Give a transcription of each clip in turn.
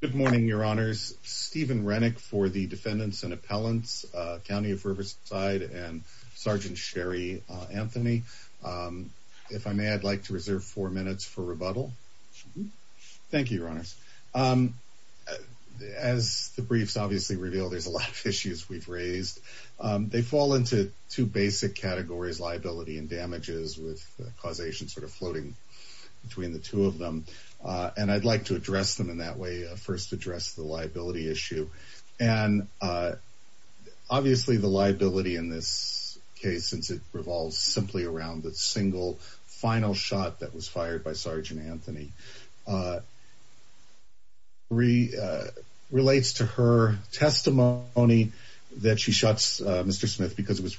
Good morning, your honors. Steven Renick for the defendants and appellants, County of Riverside and Sergeant Sherry Anthony. If I may, I'd like to reserve four minutes for rebuttal. Thank you, your honors. As the briefs obviously revealed, there's a lot of issues we've raised. They fall into two basic categories, liability and damages with causation sort of floating between the two of them. And I'd like to address them in that way. First address the liability issue. And, uh, obviously the liability in this case, since it revolves simply around the single final shot that was fired by Sergeant Anthony, uh, re relates to her testimony only that she shuts Mr Smith because it was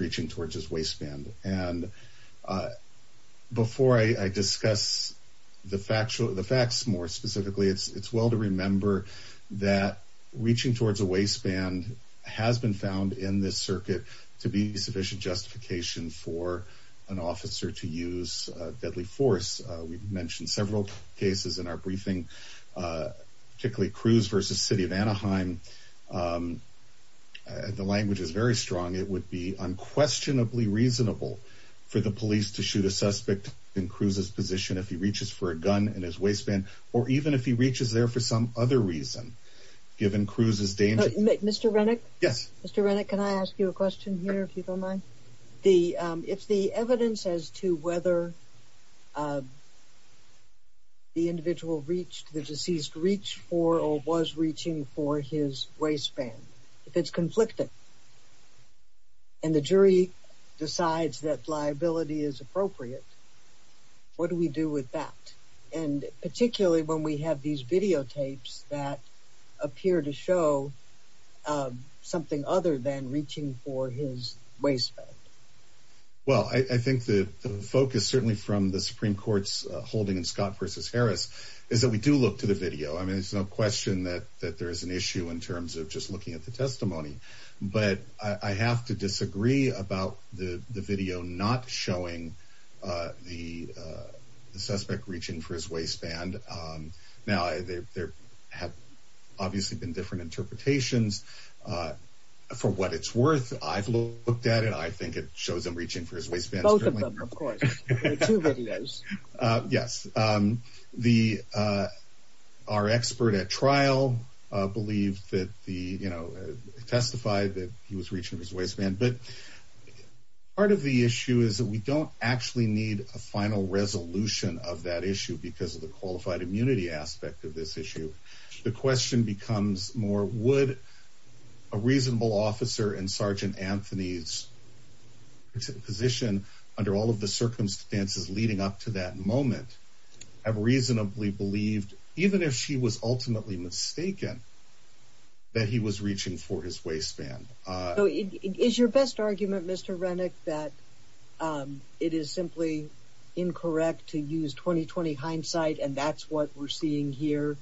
the fact the facts more specifically, it's well to remember that reaching towards a waistband has been found in this circuit to be sufficient justification for an officer to use deadly force. We've mentioned several cases in our briefing, uh, particularly Cruz versus city of Anaheim. Um, the language is very strong. It would be unquestionably reasonable for the mission if he reaches for a gun in his waistband, or even if he reaches there for some other reason, given Cruz's day, Mr Renick. Yes, Mr Renick. Can I ask you a question here? If you don't mind the if the evidence as to whether, uh, the individual reached the deceased reach for or was reaching for his waistband. If it's conflicted and the jury decides that liability is appropriate, it what do we do with that? And particularly when we have these videotapes that appear to show, uh, something other than reaching for his waistband? Well, I think the focus certainly from the Supreme Court's holding in Scott versus Harris is that we do look to the video. I mean, it's no question that that there is an issue in terms of just looking at the testimony. But I have to the suspect reaching for his waistband. Um, now there have obviously been different interpretations, uh, for what it's worth. I've looked at it. I think it shows him reaching for his waistband. Of course, two videos. Yes. Um, the, uh, our expert at trial believed that the, you know, testified that he was reaching his waistband. But part of the issue is that we don't actually need a final resolution of that issue because of the qualified immunity aspect of this issue. The question becomes more. Would a reasonable officer and Sergeant Anthony's position under all of the circumstances leading up to that moment have reasonably believed, even if she was ultimately mistaken, again, that he was reaching for his waistband. Uh, is your best argument, Mr Rennick, that, um, it is simply incorrect to use 2020 hindsight. And that's what we're seeing here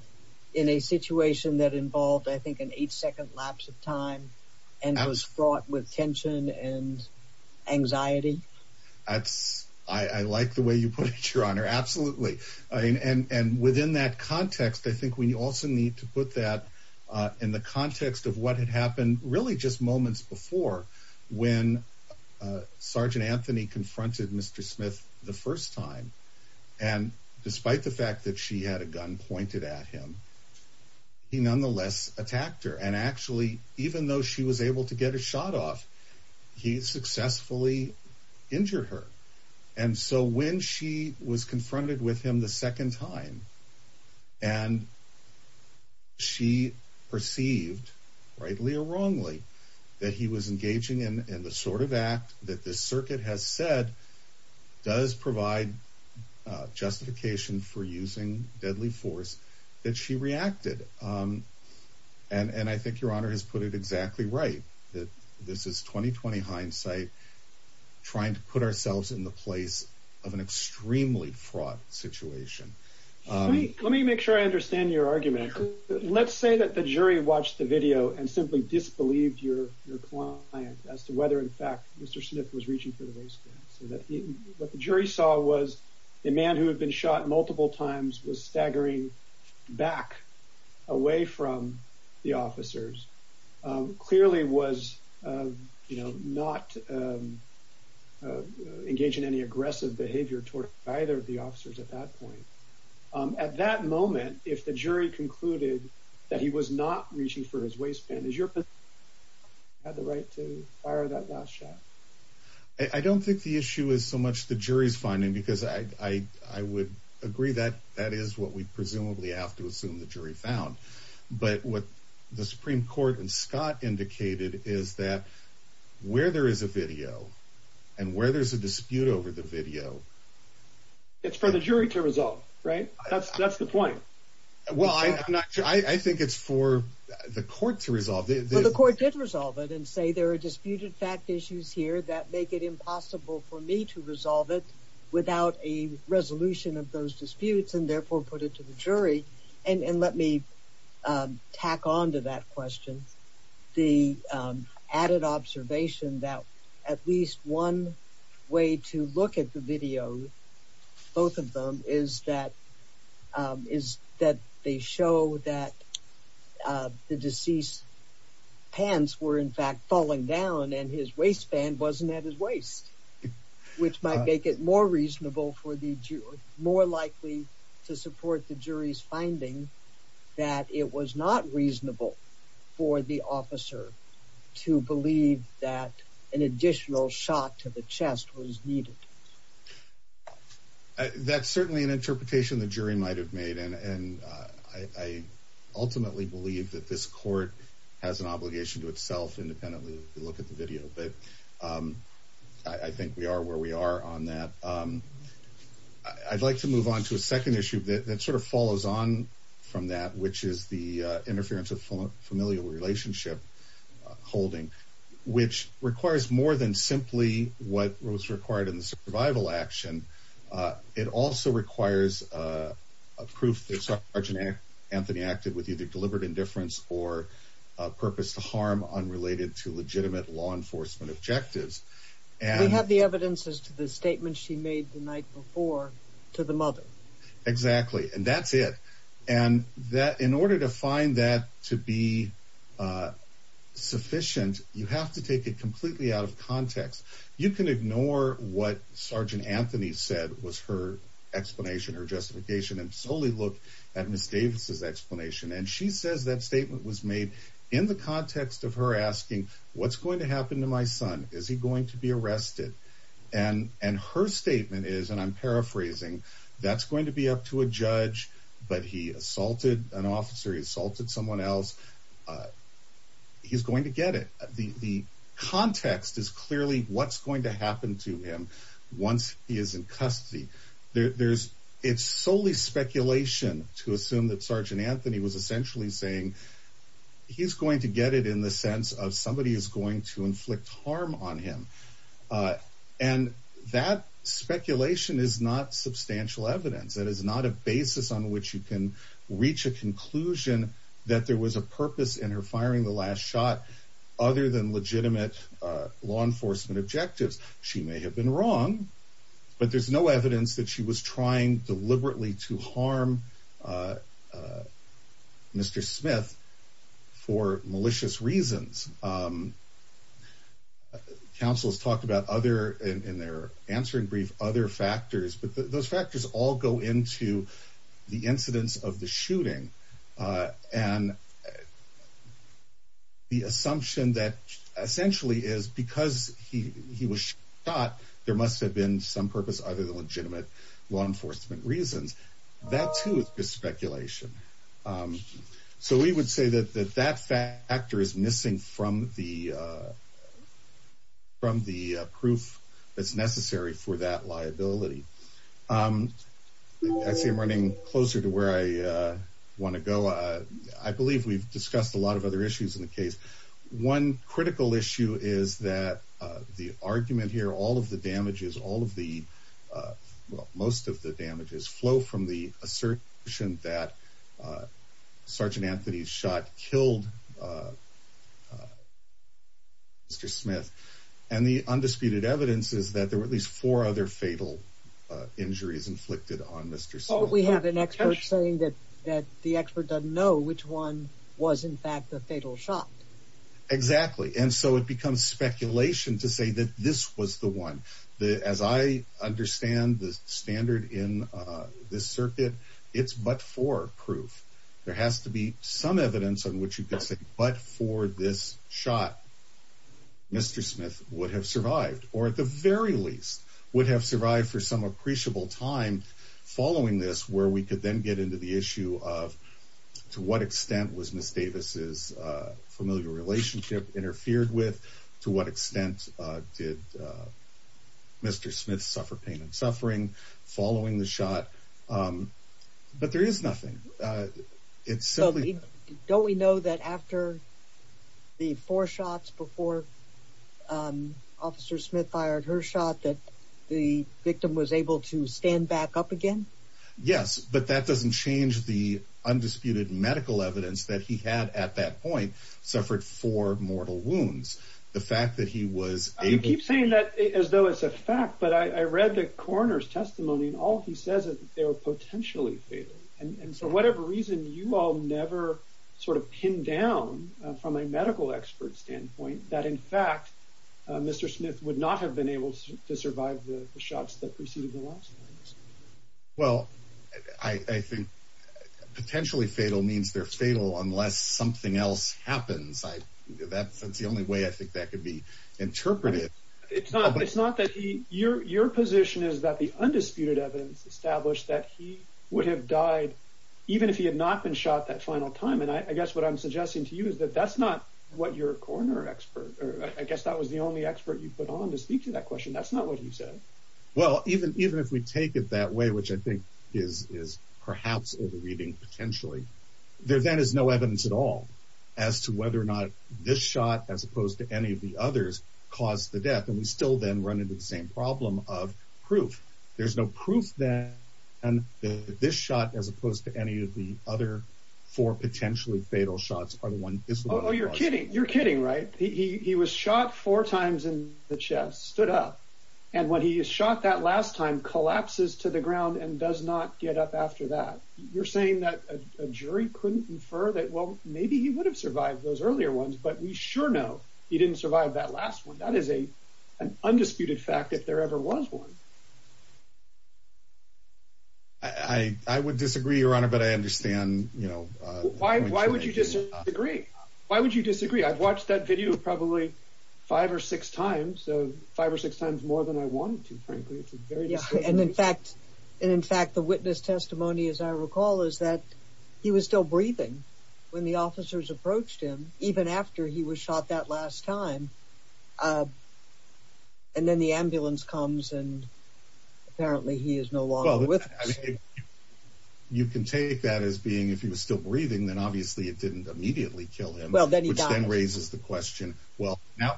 in a situation that involved, I think, an eight second lapse of time and was fraught with tension and anxiety. That's I like the way you put it, Your Honor. Absolutely. And and within that context, I think we also need to put that in the context of what had happened really just moments before when Sergeant Anthony confronted Mr Smith the first time. And despite the fact that she had a gun pointed at him, he nonetheless attacked her. And actually, even though she was able to get a shot off, he successfully injured her. And so when she was confronted with him the second time, and she perceived rightly or wrongly that he was engaging in the sort of act that this circuit has said does provide justification for using deadly force that she reacted. Um, and I think your honor has put it exactly right. This is 2020 hindsight, trying to put ourselves in the place of an extremely fraught situation. Let me make sure I understand your argument. Let's say that the jury watched the video and simply disbelieved your client as to whether, in fact, Mr Smith was reaching for the race. What the jury saw was the man who had been shot multiple times was staggering back away from the officers clearly was, you know, at that moment, if the jury concluded that he was not reaching for his waistband is your had the right to fire that last shot. I don't think the issue is so much the jury's finding, because I would agree that that is what we presumably have to assume the jury found. But what the Supreme Court and Scott indicated is that where there is a video and where there's a dispute over the video, it's for the jury to resolve, right? That's that's the point. Well, I'm not sure. I think it's for the court to resolve. The court did resolve it and say there are disputed fact issues here that make it impossible for me to resolve it without a resolution of those disputes and therefore put it to the jury. And let me, um, tack on to that question. The added observation that at one way to look at the video, both of them is that is that they show that the deceased pants were, in fact, falling down and his waistband wasn't at his waist, which might make it more reasonable for the more likely to support the jury's finding that it was not reasonable for the officer to believe that an additional shot to the chest was needed. That's certainly an interpretation the jury might have made, and I ultimately believe that this court has an obligation to itself independently. Look at the video, but, um, I think we are where we are on that. Um, I'd like to move on to a second issue that sort of follows on from that, which is the which requires more than simply what was required in the survival action. It also requires a proof that Sergeant Anthony acted with either deliberate indifference or purpose to harm unrelated to legitimate law enforcement objectives. And we have the evidence is to the statement she made the night before to the mother. Exactly. And that's it. And that in order to find that to be, uh, sufficient, you have to take it completely out of context. You can ignore what Sergeant Anthony said was her explanation or justification and solely look at Miss Davis's explanation. And she says that statement was made in the context of her asking what's going to happen to my son? Is he going to be arrested? And her statement is, and I'm paraphrasing that's going to be up to a judge. But he assaulted an officer. He assaulted someone else. Uh, he's going to get it. The context is clearly what's going to happen to him once he is in custody. There's it's solely speculation to assume that Sergeant Anthony was essentially saying he's going to get it in the sense of somebody is going to inflict harm on him. Uh, and that substantial evidence that is not a basis on which you can reach a conclusion that there was a purpose in her firing the last shot other than legitimate law enforcement objectives. She may have been wrong, but there's no evidence that she was trying deliberately to harm, uh, uh, Mr Smith for malicious reasons. Um, council's talked about other in their answering brief other factors. But those factors all go into the incidents of the shooting. Uh, and the assumption that essentially is because he was shot, there must have been some purpose other than legitimate law enforcement reasons. That tooth is speculation. Um, so we would say that that that fact actor is missing from the, uh, from the proof that's necessary for that liability. Um, I see running closer to where I want to go. I believe we've discussed a lot of other issues in the case. One critical issue is that the argument here, all of the damages, all of the, uh, most of the damages flow from the assertion that, uh, Sergeant Anthony's shot killed, uh, Mr Smith. And the undisputed evidence is that there were at least four other fatal injuries inflicted on Mr. So we have an expert saying that that the expert doesn't know which one was, in fact, the fatal shot. Exactly. And so it becomes speculation to say that this was the one that, as I understand the standard in this circuit, it's but for proof. There has to be some evidence on what you could say. But for this shot, Mr Smith would have survived or at the very least would have survived for some appreciable time following this, where we could then get into the issue of to what extent was Miss Davis's familiar relationship interfered with? To what extent did, uh, Mr Smith suffer pain and suffering following the shot? Um, but there is nothing. Uh, it's simply don't we know that after the four shots before, um, Officer Smith fired her shot that the victim was able to stand back up again? Yes, but that doesn't change. The undisputed medical evidence that he had at that point suffered four mortal wounds. The fact that he was keep saying that as though it's a fact. But I read the coroner's testimony, and all he says is they were potentially fatal. And so whatever reason you all never sort of pinned down from a medical expert standpoint that, in fact, Mr Smith would not have been able to survive the shots that preceded the last. Well, I think potentially fatal means they're fatal unless something else happens. That's the only way I think that could be interpreted. It's not. It's not that your position is that the undisputed established that he would have died even if he had not been shot that final time. And I guess what I'm suggesting to you is that that's not what you're corner expert. I guess that was the only expert you put on to speak to that question. That's not what you said. Well, even even if we take it that way, which I think is is perhaps reading potentially there, then is no evidence at all as to whether or not this shot as opposed to any of the others caused the death. And we still then run into the same problem of proof. There's no proof that this shot as opposed to any of the other four potentially fatal shots are the one. Oh, you're kidding. You're kidding, right? He was shot four times in the chest, stood up, and when he is shot that last time collapses to the ground and does not get up after that. You're saying that a jury couldn't infer that? Well, maybe he would have survived those earlier ones, but we sure know he didn't survive that last one. That is a an undisputed fact. If there ever was one, I would disagree, Your Honor. But I understand. You know, why? Why would you disagree? Why would you disagree? I've watched that video probably five or six times, so five or six times more than I wanted to. And in fact, in fact, the witness testimony, as I recall, is that he was still breathing when the officers approached him, even after he was shot that last time. Uh, and then the ambulance comes and apparently he is no longer with you. You can take that as being if he was still breathing, then obviously it didn't immediately kill him. Well, then he raises the question. Well, now,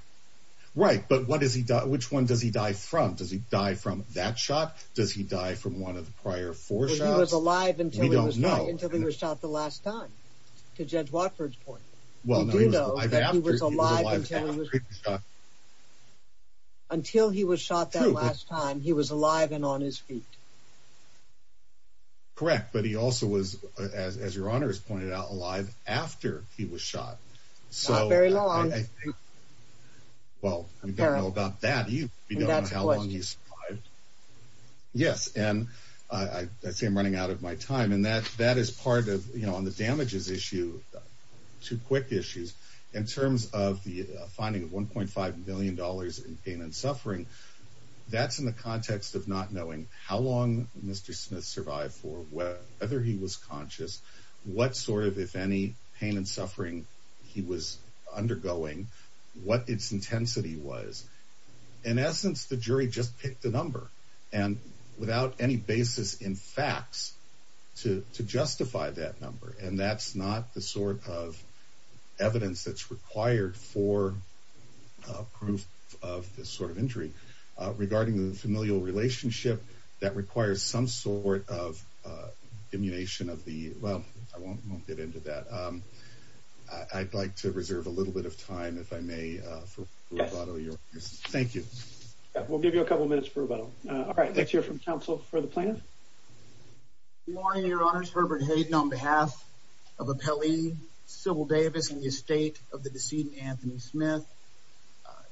right. But what is he? Which one does he die from? Does he die from that shot? Does he die from one of the prior four shots alive until he was shot the last time to judge Watford's point? Well, I was alive until he was shot that last time he was alive and on his feet. Correct. But he also was, as your honor has pointed out, alive after he was shot. So very long. Well, I don't know about that. You know how long he's Yes. And I see him running out of my time. And that that is part of, you issue two quick issues in terms of the finding of $1.5 million in pain and suffering. That's in the context of not knowing how long Mr Smith survived for whether he was conscious, what sort of if any pain and suffering he was undergoing, what its intensity was. In essence, the jury just picked the number and without any basis in facts to justify that number. And that's not the sort of evidence that's required for proof of this sort of injury regarding the familial relationship that requires some sort of, uh, immunization of the well, I won't get into that. Um, I'd like to reserve a little bit of time if I may. Thank you. We'll give you a couple minutes for about all right. Let's hear from counsel for the plan. Morning, your honors. Herbert Hayden on behalf of a Pele civil Davis in the estate of the decedent Anthony Smith.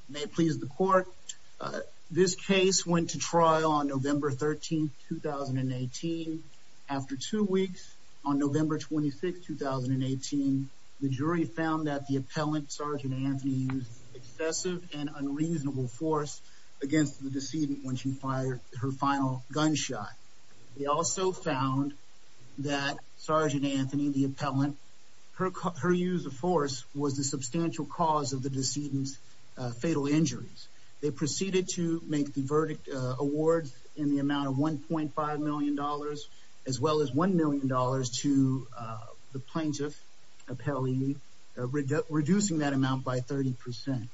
May it please the court. This case went to trial on November 13, 2018. After two weeks on November 26, 2018, the jury found that the appellant, Sergeant Anthony, excessive and unreasonable force against the decedent when she fired her final gunshot. We also found that Sergeant Anthony, the appellant, her use of force was the substantial cause of the decedent's fatal injuries. They proceeded to make the verdict awards in the amount of $1.5 million, as well as $1 million to the plaintiff appellee, reducing that amount by 30%.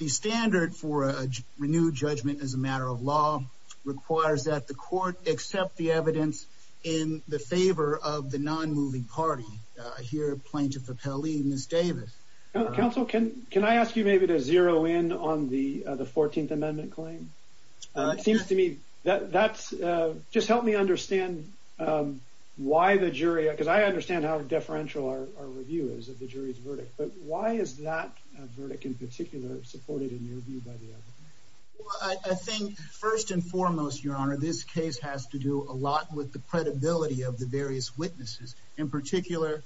The standard for a renewed judgment as a matter of law requires that the court accept the evidence in the favor of the non moving party here. Plaintiff appellee Miss Davis. Counsel, can can I ask you maybe to zero in on the 14th amendment claim? It seems to me that that's just help me understand, um, why the jury? Because I understand how differential our review is of the jury's verdict. But why is that verdict in particular supported in your view by the other? I think first and foremost, Your Honor, this case has to do a lot with the credibility of the various witnesses, in particular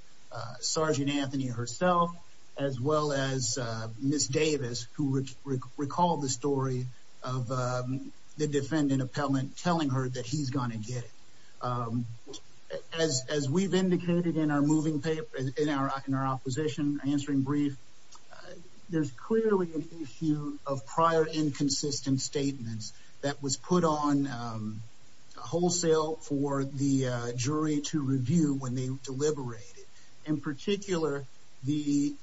Sergeant Anthony herself, as well as Miss Davis, who recalled the story of the as we've indicated in our moving paper in our in our opposition, answering brief. There's clearly a few of prior inconsistent statements that was put on wholesale for the jury to review when they deliberated. In particular, the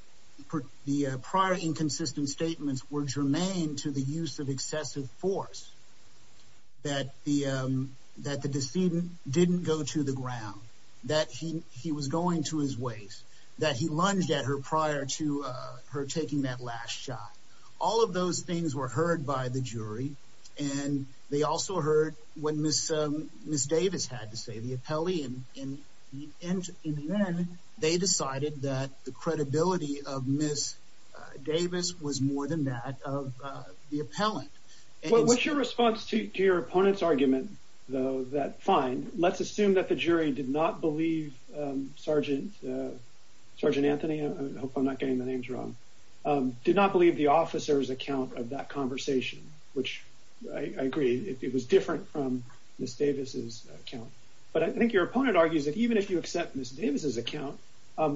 the prior inconsistent statements were germane to the use of excessive force that the that the decedent didn't go to the ground that he was going to his ways that he lunged at her prior to her taking that last shot. All of those things were heard by the jury, and they also heard when Miss Miss Davis had to say the appellee and in the end, in the end, they decided that the credibility of Miss Davis was more than that of the appellant. What's your response to your opponent's argument, though, that fine, let's assume that the jury did not believe Sergeant Sergeant Anthony. I hope I'm not getting the names wrong. Did not believe the officer's account of that conversation, which I agree. It was different from Miss Davis's account. But I think your opponent argues that even if you accept Miss Davis's account,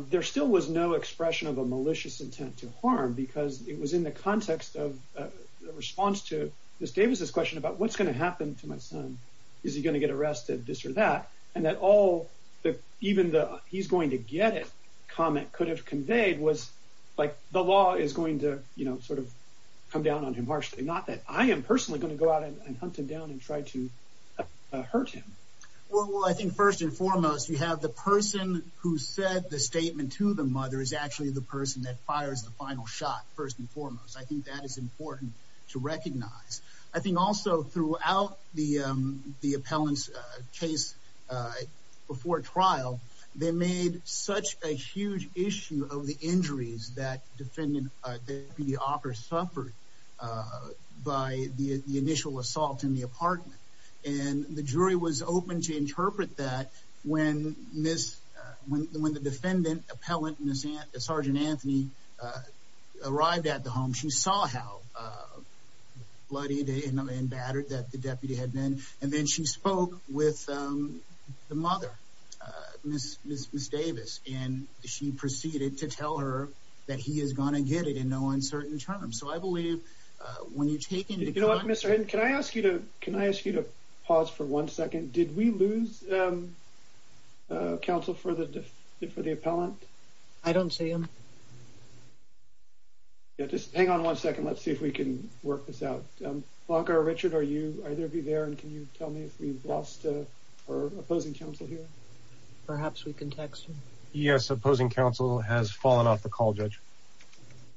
there still was no expression of a malicious intent to harm because it was in the context of response to Miss Davis's question about what's gonna happen to my son. Is he gonna get arrested? This or that? And that all even the he's going to get it comment could have conveyed was like the law is going to, you know, sort of come down on him harshly. Not that I am personally going to go out and hunt him down and try to hurt him. Well, I think first and foremost, you have the person who said the statement to the mother is actually the person that fires the final shot. First and foremost, I think that is important to recognize. I think also throughout the appellant's case before trial, they made such a huge issue of the injuries that defendant the offer suffered by the initial assault in the heart. And the jury was open to interpret that when Miss when the defendant appellant, Miss Sergeant Anthony, uh, arrived at the home, she saw how, uh, bloody day and battered that the deputy had been. And then she spoke with, um, the mother, uh, Miss Miss Davis, and she proceeded to tell her that he is gonna get it in no uncertain terms. So I believe when you you know what, Mr. And can I ask you to? Can I ask you to pause for one second? Did we lose, um, council for the for the appellant? I don't see him. Just hang on one second. Let's see if we can work this out longer. Richard, are you either be there? And can you tell me if we've lost or opposing counsel here? Perhaps we can text. Yes, opposing counsel has fallen off the call. Judge.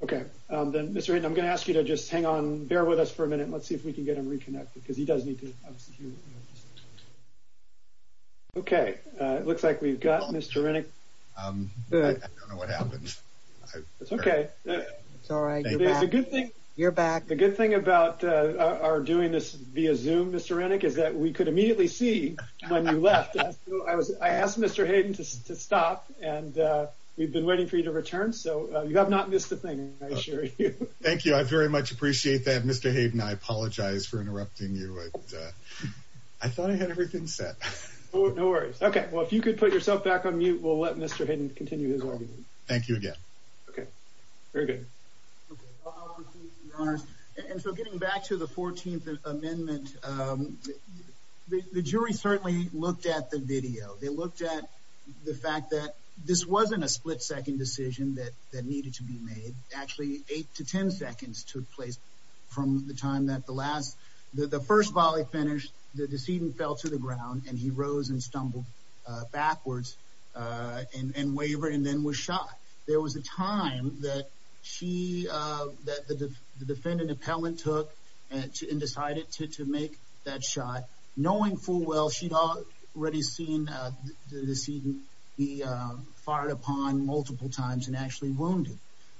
Okay, then, Mr. And I'm gonna ask you to just hang on. Bear with us for a minute. Let's see if we can get him reconnected because he doesn't need to. Okay, it looks like we've got Mr. Rennick. Um, I don't know what happens. It's okay. It's all right. You're back. The good thing about our doing this via zoom, Mr. Renick, is that we could immediately see when you left. I asked Mr Hayden to stop, and we've been waiting for you to return. So you have not missed a thing. Thank you. I very much appreciate that, Mr Hayden. I apologize for interrupting you. I thought I had everything set. No worries. Okay, well, if you could put yourself back on mute, we'll let Mr Hayden continue his argument. Thank you again. Okay, very good. And so getting back to the 14th Amendment, the jury certainly looked at the video. They looked at the fact that this wasn't a split second decision that needed to be made. Actually, eight to 10 seconds took place from the time that the first volley finished, the decedent fell to the ground, and he rose and stumbled backwards and wavered and then was shot. There was a time that she, that the defendant appellant took and decided to make that shot. Knowing full well she'd already seen the decedent be fired upon multiple times and actually wounded.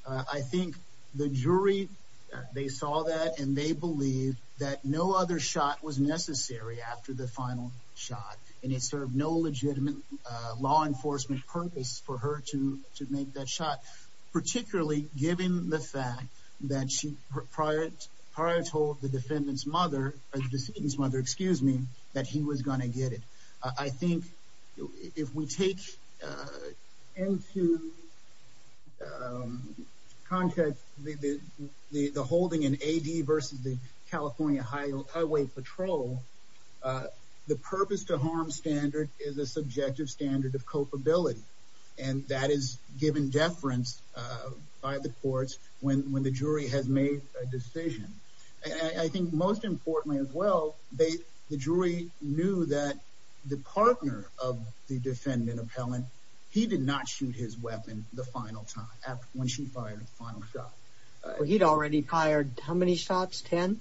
I think the jury, they saw that, and they believe that no other shot was necessary after the final shot, and it served no legitimate law enforcement purpose for her to make that shot, particularly given the fact that she, prior to the defendant's mother, the decedent's mother, excuse me, that he was going to get it. I think if we take into context the holding in AD versus the California Highway Patrol, the purpose to harm standard is a subjective standard of culpability, and that is given deference by the courts when the jury has made a decision. And I think most importantly as well, the jury knew that the partner of the defendant appellant, he did not shoot his weapon the final time, when she fired the final shot. He'd already fired how many shots? Ten?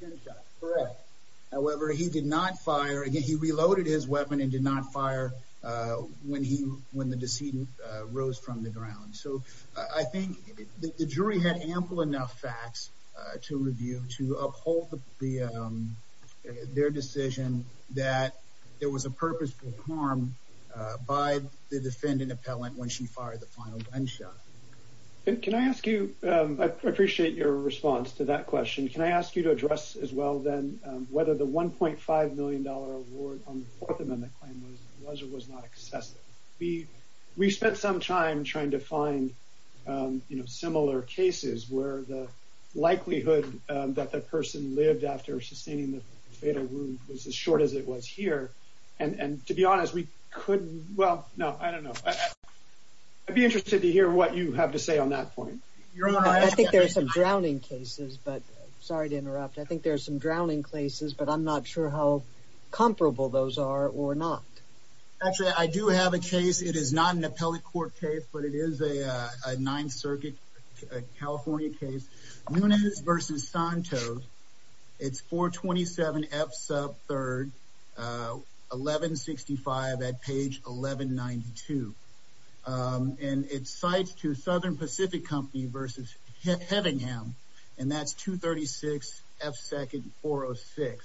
Ten shots, correct. However, he did not fire, he reloaded his weapon and did not fire when he, when the decedent rose from the ground. So I think the jury had ample enough facts to review to uphold the, their decision that there was a purpose for harm by the defendant appellant when she fired the final gunshot. And can I ask you, I appreciate your response to that question. Can I ask you to address as well then, whether the $1.5 million award on the Fourth Amendment claim was or was not excessive? We, we spent some time trying to find, you know, similar cases where the time that we lived after sustaining the fatal wound was as short as it was here. And to be honest, we couldn't, well, no, I don't know. I'd be interested to hear what you have to say on that point. I think there's some drowning cases, but sorry to interrupt. I think there's some drowning cases, but I'm not sure how comparable those are or not. Actually, I do have a case. It is not an appellate court case, but it is a Ninth Circuit, California case, Nunez versus Santos. It's 427 F sub 3rd, 1165 at page 1192. And it cites to Southern Pacific Company versus Headingham. And that's 236 F second 406.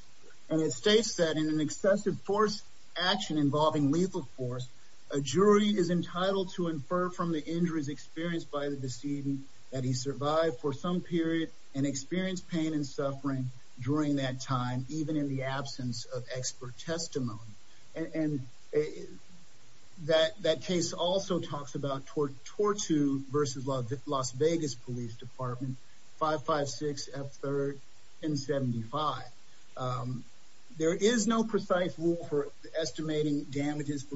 And it states that in an excessive force action involving lethal force, a jury is entitled to infer from the injuries experienced by the decedent that he survived for some period and experienced pain and suffering during that time, even in the absence of expert testimony. And that case also talks about Tortu versus Las Vegas Police Department 556 F third 1075. There is no precise rule for estimating damages for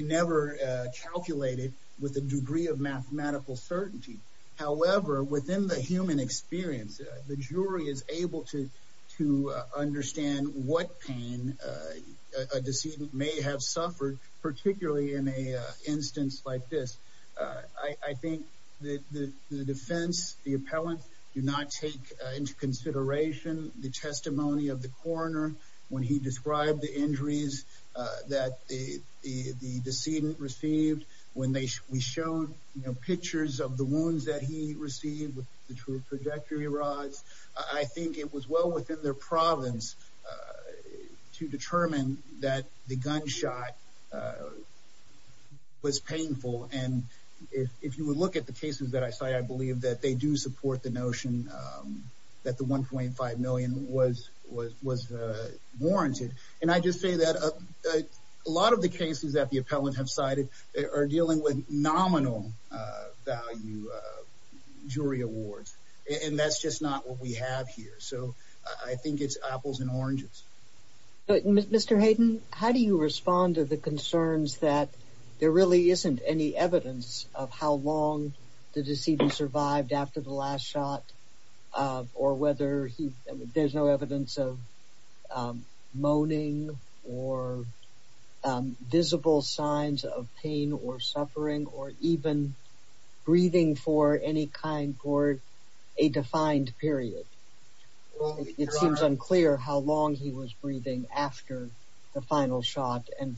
never calculated with a degree of mathematical certainty. However, within the human experience, the jury is able to understand what pain a decedent may have suffered, particularly in a instance like this. I think the defense, the appellant, do not take into consideration the testimony of the decedent received when we showed pictures of the wounds that he received with the true trajectory rods. I think it was well within their province to determine that the gunshot was painful. And if you would look at the cases that I say, I believe that they do support the notion that the 1.5 million was warranted. And I just say that a lot of the cases that the appellant have cited are dealing with nominal value jury awards, and that's just not what we have here. So I think it's apples and oranges. But Mr Hayden, how do you respond to the concerns that there really isn't any evidence of how long the decedent survived after the last shot or whether there's no evidence of moaning or visible signs of pain or suffering or even breathing for any kind for a defined period? It seems unclear how long he was breathing after the final shot and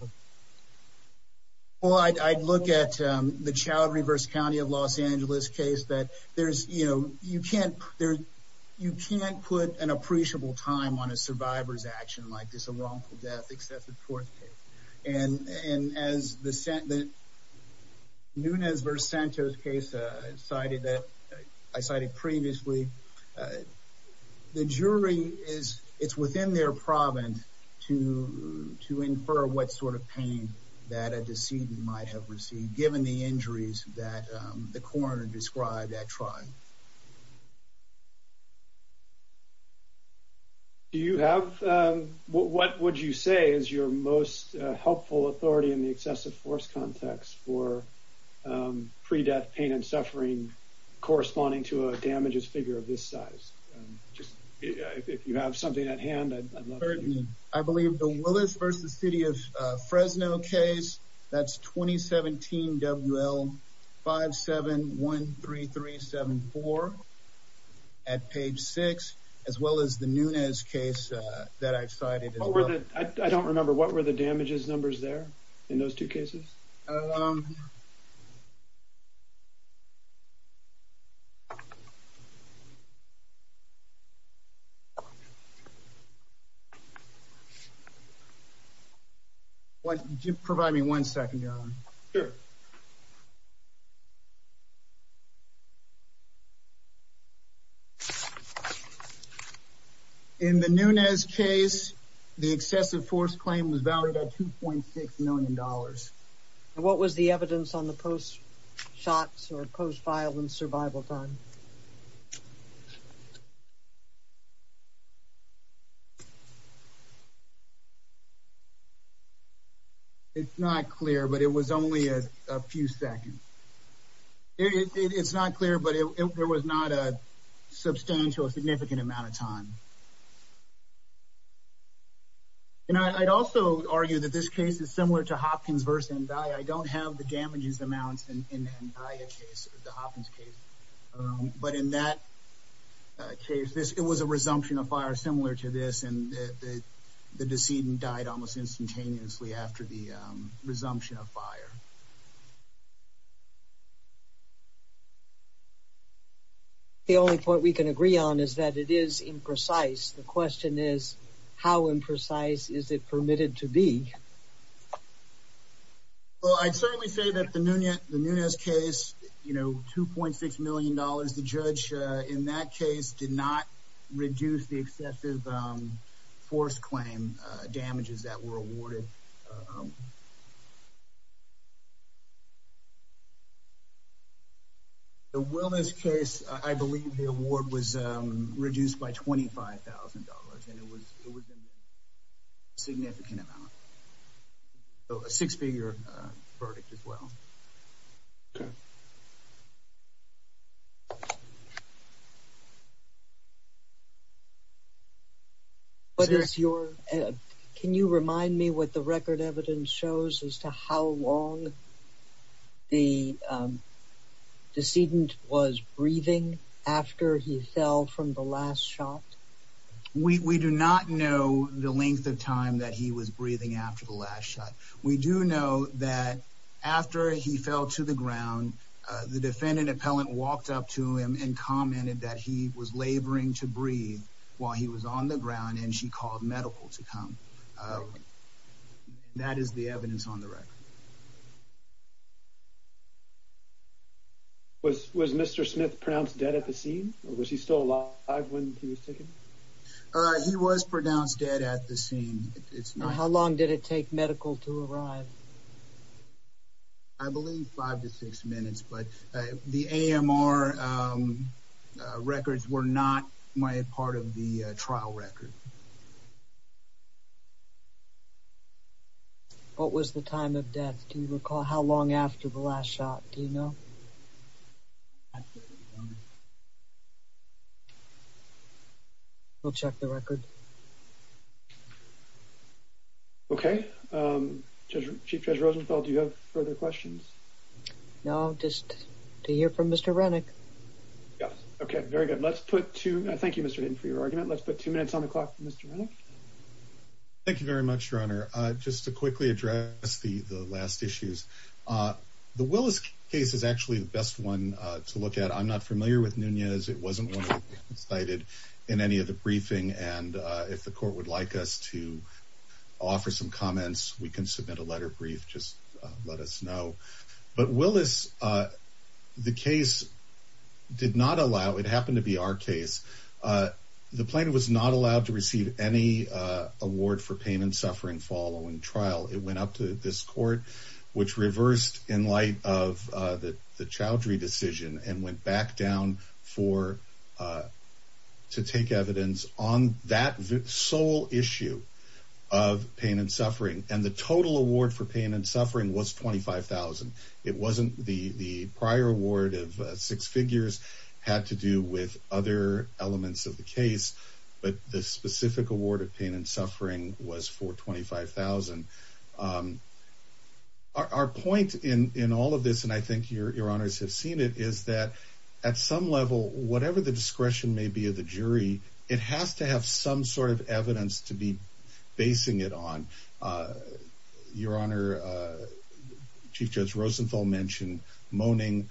well, I'd look at the child reverse County of Los Angeles case that there's you know, you can't there. You can't put an appreciable time on a survivor's action like this. A wrongful death except the fourth and as the sentiment Nunez versus Santos case cited that I cited previously. The jury is it's within their province to to infer what sort of pain that a decedent might have received, given the injuries that the coroner described at time. Do you have? What would you say is your most helpful authority in the excessive force context for pre-death pain and suffering corresponding to a damages figure of this size? Just if you have something at hand. I believe the Willis versus city of Fresno case that's 2017 WL 5713374 at page six, as well as the Nunez case that I've cited. I don't remember what were the damages numbers there in those two cases? What did you provide me? One second. In the Nunez case, the excessive force claim was valued at $2.6 million. What was the evidence on the post shots or post violence survival time? It's not clear, but it was only a few seconds. It's not clear, but there was not a substantial significant amount of time. And I'd also argue that this case is similar to Hopkins versus and I don't have the damages amounts in the Hopkins case. But in that case, it was a seed and died almost instantaneously after the resumption of fire. The only point we can agree on is that it is imprecise. The question is, how imprecise is it permitted to be? Well, I'd certainly say that the Nunez case, you know, $2.6 million. The judge in that case did not reduce the excessive force claim damages that were awarded. The Willis case, I believe the award was reduced by $25,000 and it was in significant amount. So a six figure verdict as well. Yeah. But it's your can you remind me what the record evidence shows as to how long the decedent was breathing after he fell from the last shot? We do not know the length of time that he was breathing after the last shot. We do know that after he fell to the ground, the defendant appellant walked up to him and commented that he was laboring to breathe while he was on the ground and she called medical to come. That is the evidence on the record. Was was Mr Smith pronounced dead at the scene? Was he still alive when he was taken? He was pronounced dead at the scene. It's not how long did it take medical to arrive? I believe 5 to 6 minutes, but the A. M. R. Records were not my part of the trial record. What was the time of death? Do you recall how long after the last shot? Do you know? We'll check the record. Yeah. Okay. Um, Chief Judge Rosenthal. Do you have further questions? No. Just to hear from Mr Renick. Yes. Okay. Very good. Let's put two. Thank you, Mr for your argument. Let's put two minutes on the clock. Mr. Thank you very much, Your Honor. Just to quickly address the last issues. Uh, the Willis case is actually the best one to look at. I'm not familiar with Nunez. It wasn't cited in any of the briefing. And if the court would like us to offer some comments, we can submit a letter brief. Just let us know. But Willis, uh, the case did not allow. It happened to be our case. Uh, the plane was not allowed to receive any award for pain and suffering. Following trial, it went up to this court, which reversed in light of the child. Redecision and went back down for, uh, to take evidence on that sole issue of pain and suffering. And the total award for pain and suffering was 25,000. It wasn't the prior award of six figures had to do with other elements of the case. But the specific award of pain and suffering was for 25,000. Um, our point in in all of this, and I think your your honors have seen it, is that at some level, whatever the discretion may be of the jury, it has to have some sort of evidence to be basing it on. Uh, Your Honor, uh, Chief Judge Rosenthal mentioned moaning,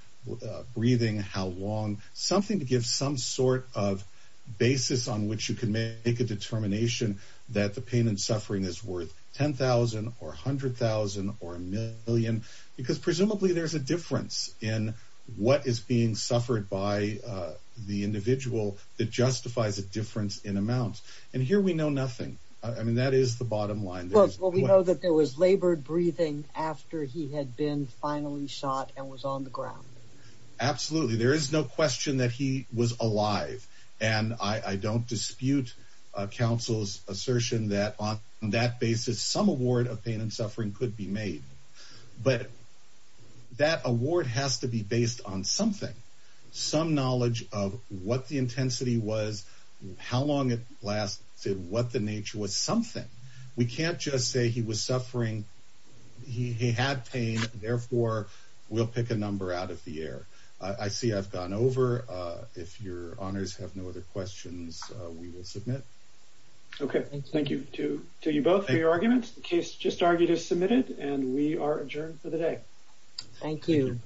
breathing. How long? Something to give some sort of basis on which you can make a determination that the pain and because presumably there's a difference in what is being suffered by the individual that justifies a difference in amount. And here we know nothing. I mean, that is the bottom line. Well, we know that there was labored breathing after he had been finally shot and was on the ground. Absolutely. There is no question that he was alive, and I don't dispute council's assertion that on that basis, some award of pain and suffering could be made. But that award has to be based on something. Some knowledge of what the intensity was, how long it lasted, what the nature was something we can't just say he was suffering. He had pain. Therefore, we'll pick a number out of the air. I see I've gone over. If your honors have no other questions, we will submit. Okay. Thank you to you both for your arguments. The case just argued is submitted, and we are adjourned for the day. Thank you.